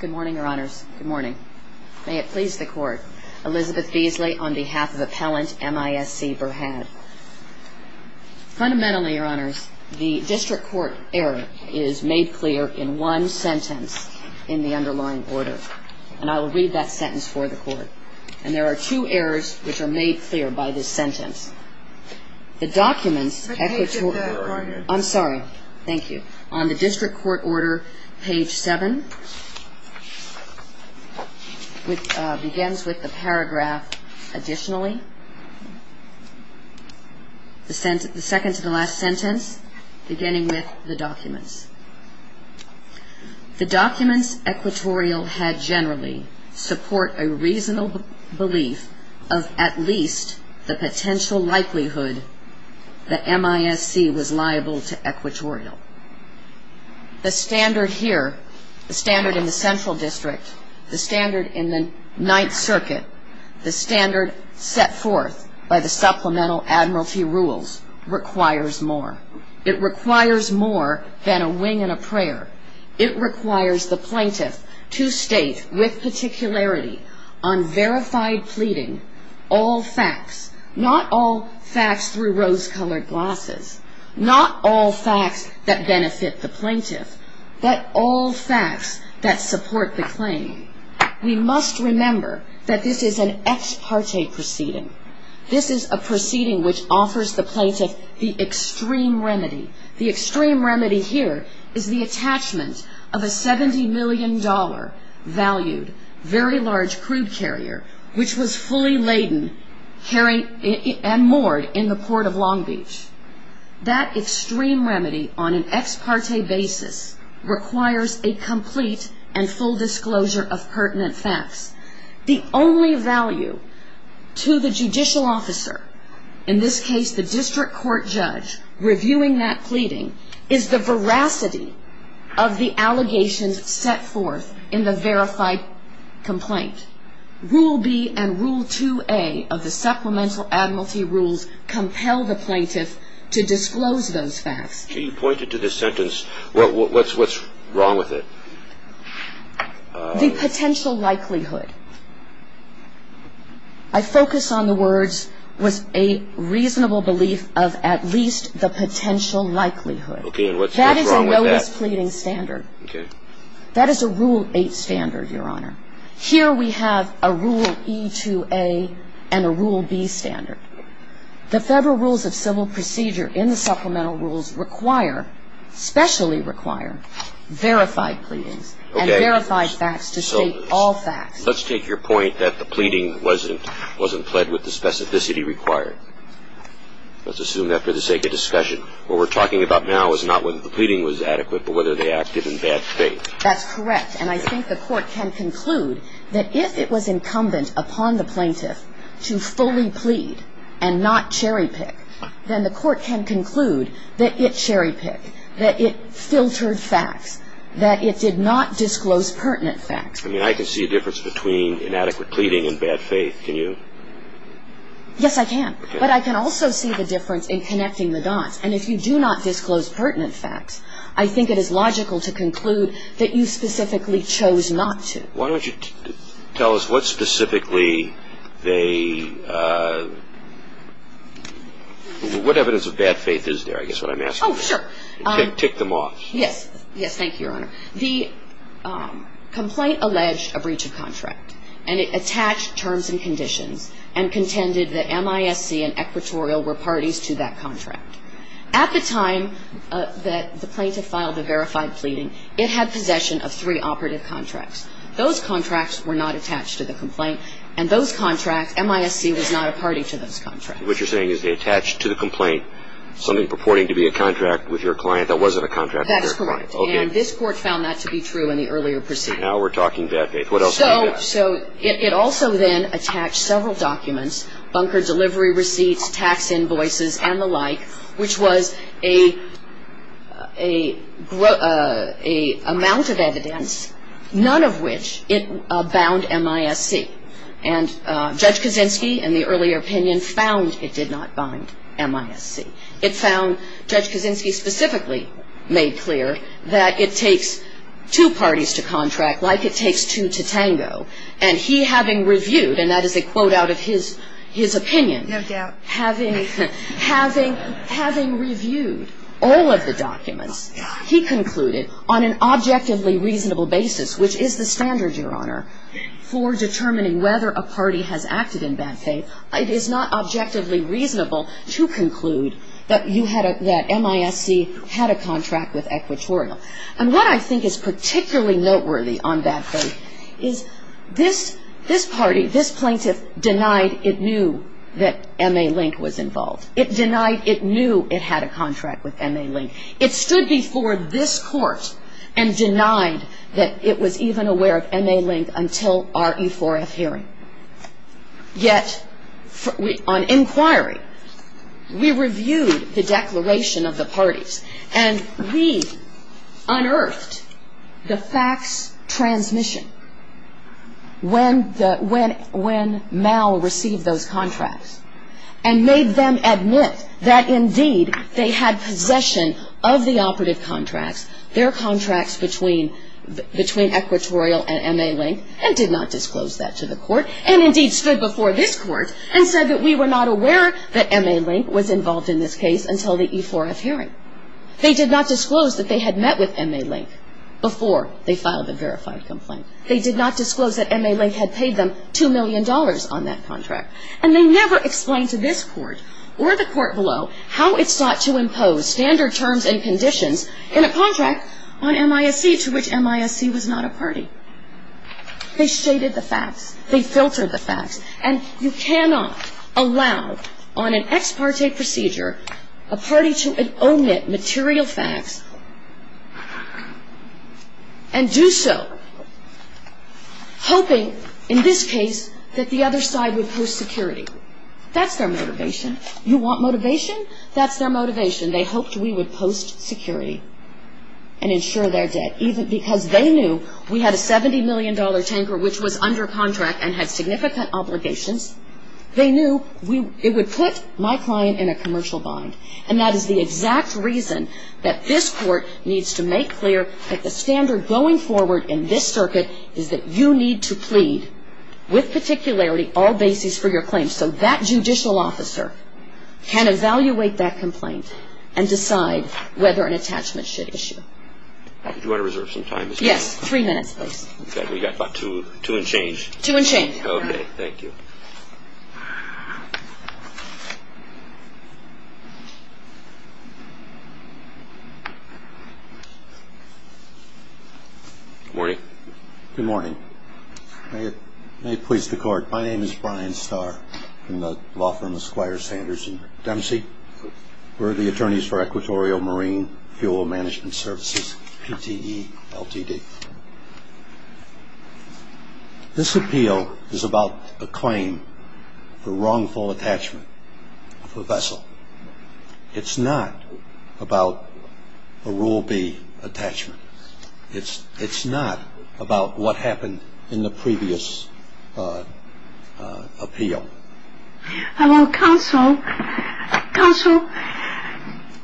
Good morning, Your Honors. Good morning. May it please the Court, Elizabeth Beasley on behalf of Appellant M.I.S.C. Berhad. Fundamentally, Your Honors, the District Court error is made clear in one sentence in the underlying order. And I will read that sentence for the Court. And there are two errors which are made clear by this sentence. The documents equatorial. I'm sorry. Thank you. On the District Court order, page 7, which begins with the paragraph additionally, the second to the last sentence, beginning with the documents. The documents equatorial had generally support a reasonable belief of at least the potential likelihood that M.I.S.C. was liable to equatorial. The standard here, the standard in the Central District, the standard in the Ninth Circuit, the standard set forth by the Supplemental Admiralty Rules requires more. It requires more than a wing and a prayer. It requires the plaintiff to state with particularity on verified pleading, all facts. Not all facts through rose-colored glasses. Not all facts that benefit the plaintiff. But all facts that support the claim. We must remember that this is an extreme remedy. The extreme remedy here is the attachment of a $70 million valued very large crude carrier, which was fully laden and moored in the Port of Long Beach. That extreme remedy on an ex parte basis requires a complete and full disclosure of pertinent facts. The only value to the judicial officer, in this case the district court judge, reviewing that pleading, is the veracity of the allegations set forth in the verified complaint. Rule B and Rule 2A of the Supplemental Admiralty Rules compel the plaintiff to disclose those facts. Can you point to this sentence? What's wrong with it? The potential likelihood. I focus on the words with a reasonable belief of at least the potential likelihood. That is a notice pleading standard. That is a Rule 8 standard, Your Honor. Here we have a Rule E2A and a Rule B standard. The Federal Rules of Civil Procedure in the Supplemental Rules require, specially require, verified pleadings and verified facts to state all facts. Let's take your point that the pleading wasn't pled with the specificity required. Let's assume that for the sake of discussion. What we're talking about now is not whether the pleading was adequate but whether they acted in bad faith. That's correct. And I think the court can conclude that if it was incumbent upon the plaintiff to disclose pertinent facts, then the court can conclude that it cherry-picked, that it filtered facts, that it did not disclose pertinent facts. I mean, I can see a difference between inadequate pleading and bad faith. Can you? Yes, I can. But I can also see the difference in connecting the dots. And if you do not disclose pertinent facts, I think it is logical to conclude that you specifically chose not to. Why don't you tell us what evidence of bad faith is there? I guess what I'm asking. Oh, sure. And tick them off. Yes. Yes. Thank you, Your Honor. The complaint alleged a breach of contract. And it attached terms and conditions and contended that MISC and Equatorial were parties to that contract. At the time that the plaintiff filed the verified pleading, it had possession of three operative contracts. Those contracts were not attached to the complaint. And those contracts, MISC, was not a party to those contracts. What you're saying is they attached to the complaint something purporting to be a contract with your client that wasn't a contract with your client. That's correct. Okay. And this Court found that to be true in the earlier proceeding. Now we're talking bad faith. What else do you got? So it also then attached several documents, bunker delivery receipts, tax invoices and the like, which was a amount of evidence, none of which it bound MISC. And Judge Kaczynski, in the earlier opinion, found it did not bind MISC. It found, Judge Kaczynski specifically made clear that it takes two parties to contract like it takes two to tango. And he having reviewed, and that is a quote out of his opinion. No doubt. Having reviewed all of the documents, he concluded on an objectively reasonable basis, which is the standard, Your Honor, for determining whether a party has acted in bad faith. It is not objectively reasonable to conclude that you had a, that MISC had a contract with Equatorial. And what I think is particularly noteworthy on bad faith is this, this party, this plaintiff denied it knew that M.A. Link was involved. It denied it knew it had a contract with M.A. Link. It stood before this Court and this Court and this Court and denied that it was even aware of M.A. Link until our E4F hearing. Yet, on inquiry, we reviewed the declaration of the parties, and we unearthed the facts transmission when the, when, when Mal received those contracts and made them admit that, indeed, they had possession of the operative contracts, and their contracts between, between Equatorial and M.A. Link, and did not disclose that to the Court. And, indeed, stood before this Court and said that we were not aware that M.A. Link was involved in this case until the E4F hearing. They did not disclose that they had met with M.A. Link before they filed a verified complaint. They did not disclose that M.A. Link had paid them $2 million on that contract. And they never explained to this Court or the Court below how it sought to impose standard terms and conditions in a contract on M.I.S.C., to which M.I.S.C. was not a party. They shaded the facts. They filtered the facts. And you cannot allow, on an ex parte procedure, a party to omit material facts and do so hoping, in this case, that the other side would post security. That's their motivation. You want motivation? That's their motivation. They hoped we would post security and ensure their debt, even because they knew we had a $70 million tanker which was under contract and had significant obligations. They knew it would put my client in a commercial bind. And that is the exact reason that this Court needs to make clear that the standard going forward in this circuit is that you need to have a judge or a judge to make a clear claim so that judicial officer can evaluate that complaint and decide whether an attachment should issue. Do you want to reserve some time? Yes. Three minutes, please. We've got about two and change. Two and change. Okay. Thank you. Good morning. Good morning. May it please the Court. I'm a lawyer. I'm a lawyer from the law firm Esquire, Sanders & Dempsey. We're the attorneys for Equatorial Marine Fuel Management Services, PTE, LTD. This appeal is about a claim for wrongful attachment of a vessel. It's not about a Rule B attachment. It's not about what happened in the previous appeal. It's the statutes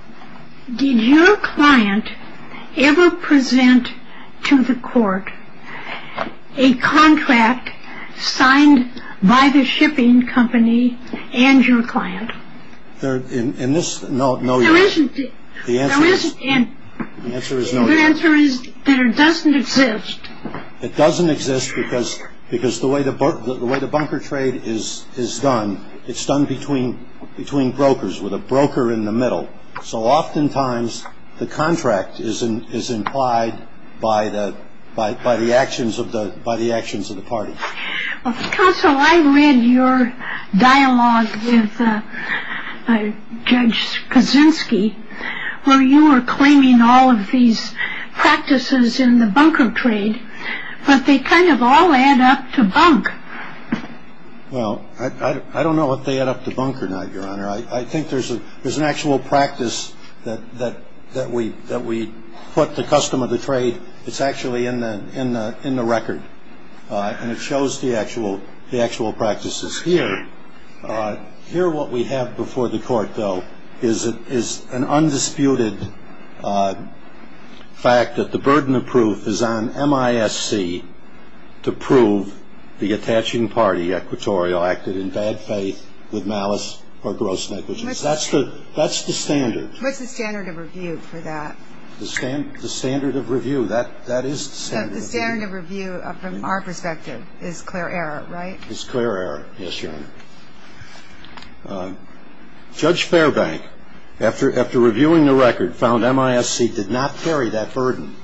– the regulation. We're old school. And what the court has to say that it can't do. We need time to do it. Counsel, did your client ever present to the Court a contract signed by the shipping company and your client? There isn't any. The answer is there doesn't exist. It doesn't exist because the way the bunker trade is mapped, if we were to, if Anbras didn't it's done between brokers with a broker in the middle. So oftentimes the contract is implied by the actions of the party. Counsel, I read your dialogue with Judge Kaczynski where you were claiming all of these practices in the bunker trade, but they kind of all add up to bunk. Well, I don't know if they add up to bunk or not, Your Honor. I think there's an actual practice that we put the custom of the trade – it's actually in the record. And it shows the actual practices here. Here what we have before the court, though, is an undisputed fact that the burden of proof is on MISC to prove the attaching party, Equatorial, acted in bad faith with malice or gross negligence. That's the standard. What's the standard of review for that? The standard of review. That is the standard of review. So the standard of review from our perspective is clear error, right? It's clear error, yes, Your Honor. Judge Fairbank, after reviewing the record, found MISC did not carry that burden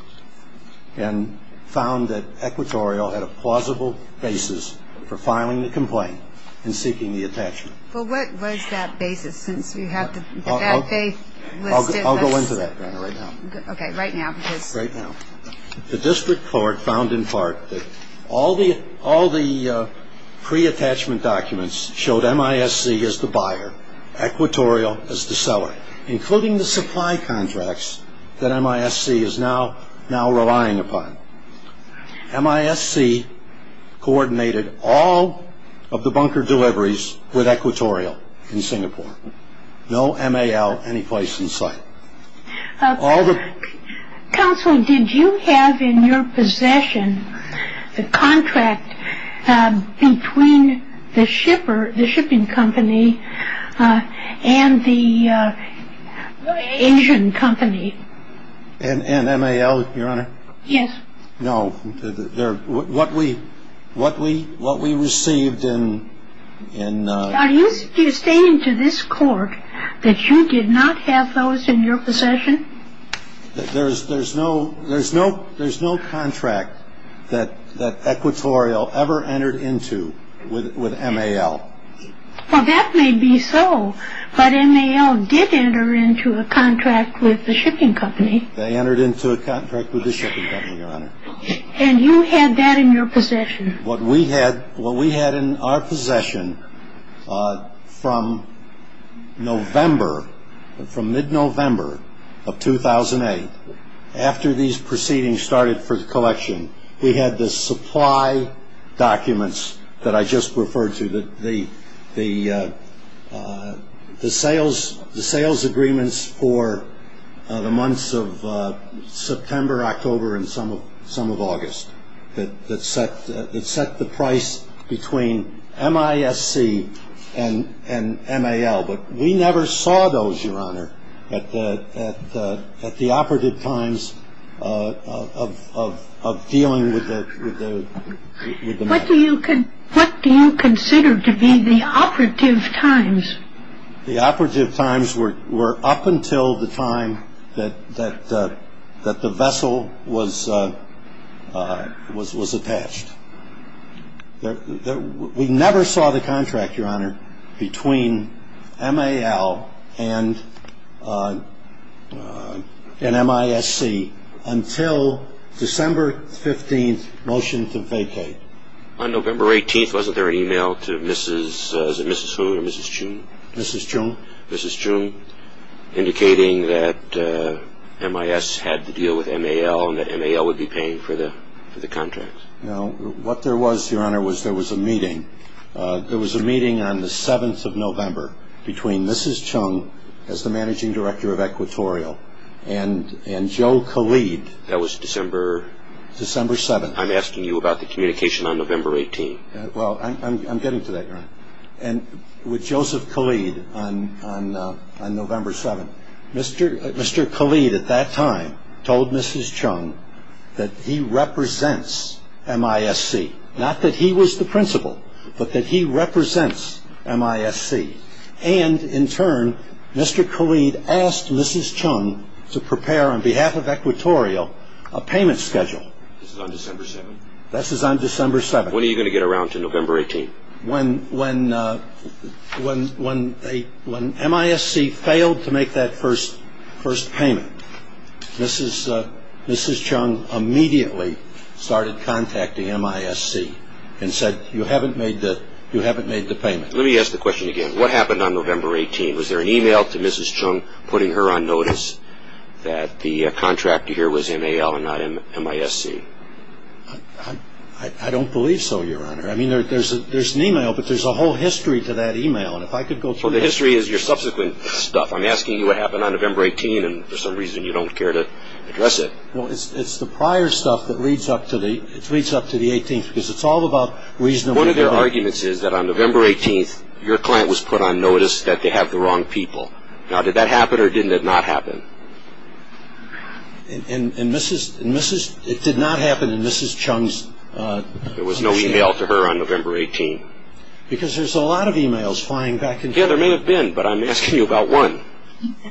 and found that Equatorial had a plausible basis for filing the complaint and seeking the attachment. Well, what was that basis since you have the bad faith listed? I'll go into that, Your Honor, right now. Okay, right now. The district court found in part that all the pre-attachment documents showed MISC as the buyer, Equatorial as the seller, including the supply contracts that MISC is now relying upon. MISC coordinated all of the bunker deliveries with Equatorial in Singapore. No mal any place in sight. Counsel, did you have in your possession the contract between the shipper, the shipping company, and the Asian company? And NAL, Your Honor? Yes. No. What we received in... Are you stating to this court that you did not have those in your possession? There's no contract that Equatorial ever entered into with NAL. Well, that may be so, but NAL did enter into a contract with the shipping company. They entered into a contract with the shipping company, Your Honor. And you had that in your possession? What we had in our possession from November, from mid-November of 2008, after these proceedings started for the collection, we had the supply documents that I just referred to, the sales agreements for the months of September, October, and some of August, that set the price between MISC and NAL. But we never saw those, Your Honor, at the operative times of dealing with the matter. What do you consider to be the operative times? The operative times were up until the time that the vessel was attached. We never saw the contract, Your Honor, between NAL and MISC until December 15th, motion to vacate. On November 18th, wasn't there an e-mail to Mrs. whom? Mrs. June? Mrs. June. Mrs. June indicating that MIS had to deal with NAL and that NAL would be paying for the contract. No. What there was, Your Honor, was there was a meeting. There was a meeting on the 7th of November between Mrs. Chung as the managing director of Equatorial and Joe Khalid. That was December? December 7th. I'm asking you about the communication on November 18th. Well, I'm getting to that, Your Honor. With Joseph Khalid on November 7th, Mr. Khalid at that time told Mrs. Chung that he represents MISC. Not that he was the principal, but that he represents MISC. And in turn, Mr. Khalid asked Mrs. Chung to prepare on behalf of Equatorial a payment schedule. This is on December 7th? This is on December 7th. When are you going to get around to November 18th? When MISC failed to make that first payment, Mrs. Chung immediately started contacting MISC and said, you haven't made the payment. Let me ask the question again. What happened on November 18th? Was there an email to Mrs. Chung putting her on notice that the contractor here was NAL and not MISC? I don't believe so, Your Honor. I mean, there's an email, but there's a whole history to that email. And if I could go through it. Well, the history is your subsequent stuff. I'm asking you what happened on November 18th, and for some reason you don't care to address it. Well, it's the prior stuff that leads up to the 18th, because it's all about reasonableness. One of their arguments is that on November 18th, your client was put on notice that they have the wrong people. Now, did that happen or did it not happen? It did not happen in Mrs. Chung's commission. There was no email to her on November 18th. Because there's a lot of emails flying back and forth. Yeah, there may have been, but I'm asking you about one.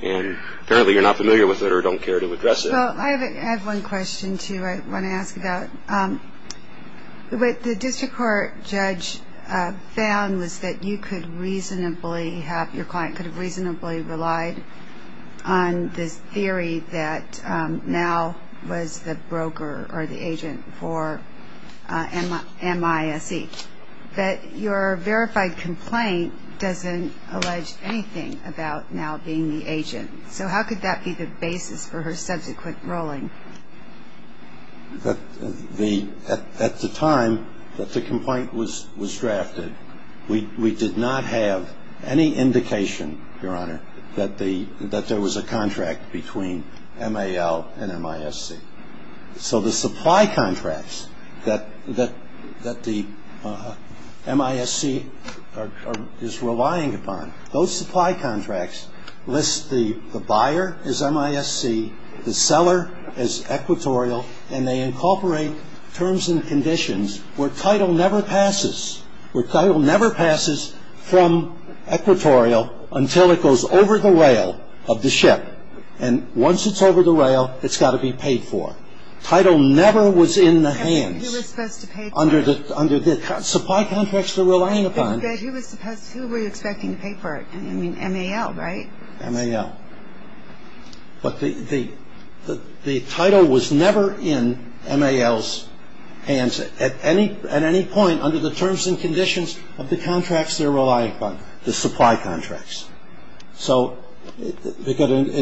And apparently you're not familiar with it or don't care to address it. Well, I have one question, too, I want to ask about. What the district court judge found was that you could reasonably have, your client could have reasonably relied on this theory that NAL was the broker or the agent for MISE. But your verified complaint doesn't allege anything about NAL being the agent. So how could that be the basis for her subsequent ruling? At the time that the complaint was drafted, we did not have any indication, Your Honor, that there was a contract between NAL and MISE. So the supply contracts that the MISE is relying upon, those supply contracts list the buyer as MISE, the seller as equatorial, and they incorporate terms and conditions where title never passes, where title never passes from equatorial until it goes over the rail of the ship. And once it's over the rail, it's got to be paid for. Title never was in the hands. Who was supposed to pay for it? Under the supply contracts they're relying upon. Who were you expecting to pay for it? I mean, NAL, right? NAL. But the title was never in NAL's hands at any point under the terms and conditions of the contracts they're relying upon, the supply contracts. So it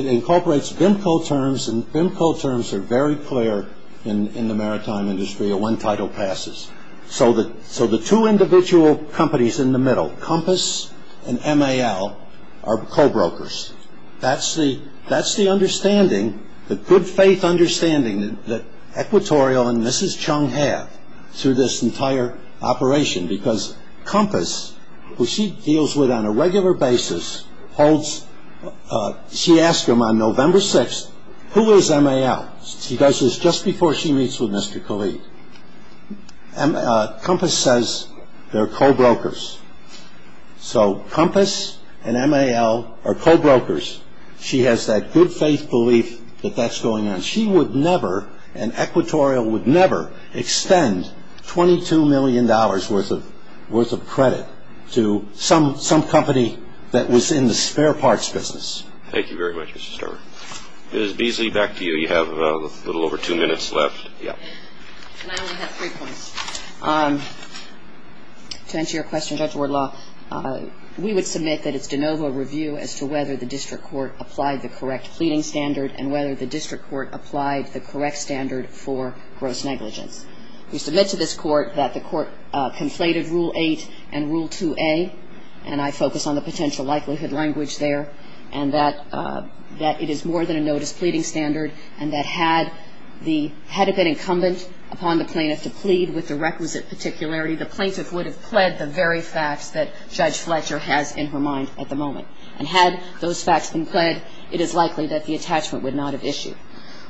incorporates BIMCO terms, and BIMCO terms are very clear in the maritime industry of when title passes. So the two individual companies in the middle, Compass and MAL, are co-brokers. That's the understanding, the good faith understanding, that Equatorial and Mrs. Chung have through this entire operation, because Compass, who she deals with on a regular basis, she asked him on November 6th, Who is MAL? She does this just before she meets with Mr. Khalid. Compass says they're co-brokers. So Compass and MAL are co-brokers. She has that good faith belief that that's going on. She would never, and Equatorial would never, extend $22 million worth of credit to some company that was in the spare parts business. Thank you very much, Mr. Sterling. Ms. Beasley, back to you. You have a little over two minutes left. I only have three points. To answer your question, Judge Wardlaw, we would submit that it's de novo review as to whether the district court applied the correct pleading standard and whether the district court applied the correct standard for gross negligence. We submit to this court that the court conflated Rule 8 and Rule 2A, and I focus on the potential likelihood language there, and that it is more than a notice pleading standard, and that had it been incumbent upon the plaintiff to plead with the requisite particularity, the plaintiff would have pled the very facts that Judge Fletcher has in her mind at the moment. And had those facts been pled, it is likely that the attachment would not have issued.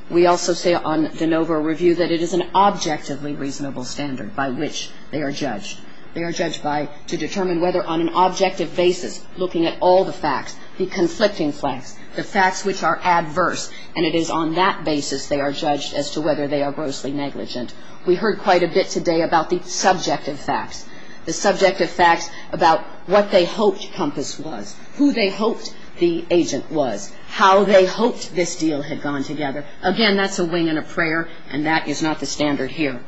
We also say on de novo review that it is an objectively reasonable standard by which they are judged. They are judged by to determine whether on an objective basis looking at all the facts, the conflicting facts, the facts which are adverse, and it is on that basis they are judged as to whether they are grossly negligent. We heard quite a bit today about the subjective facts, the subjective facts about what they hoped Compass was, who they hoped the agent was, how they hoped this deal had gone together. Again, that's a wing and a prayer, and that is not the standard here.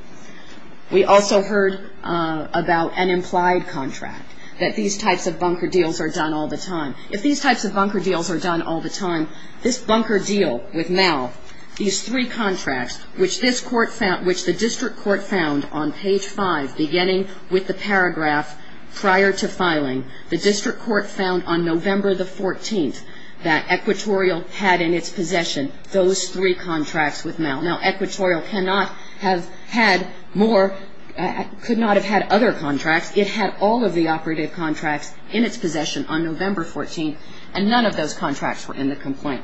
We also heard about an implied contract, that these types of bunker deals are done all the time. If these types of bunker deals are done all the time, this bunker deal with Mal, these three contracts which this court found, which the district court found on page 5, beginning with the paragraph prior to filing, the district court found on November the 14th that Equatorial had in its possession those three contracts with Mal. Now, Equatorial cannot have had more, could not have had other contracts. It had all of the operative contracts in its possession on November 14th, and none of those contracts were in the complaint.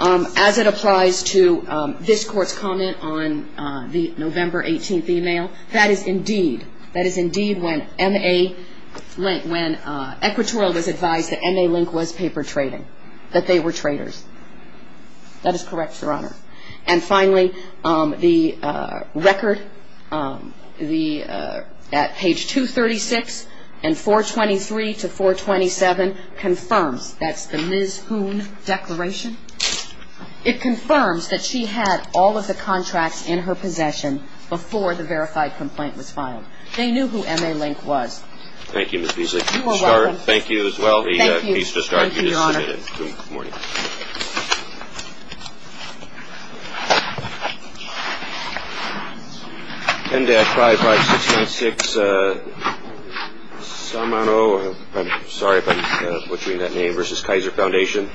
As it applies to this court's comment on the November 18th email, that is indeed, that is indeed when Equatorial was advised that M.A. Link was paper trading, that they were traitors. That is correct, Your Honor. And finally, the record at page 236 and 423 to 427 confirms, that's the Ms. Hoon declaration, it confirms that she had all of the contracts in her possession before the verified complaint was filed. They knew who M.A. Link was. Thank you, Ms. Beasley. You are welcome. Thank you. Thank you, Your Honor. Appreciate it. Good morning. 10-55696 Salmano, I'm sorry if I'm butchering that name, versus Kaiser Foundation.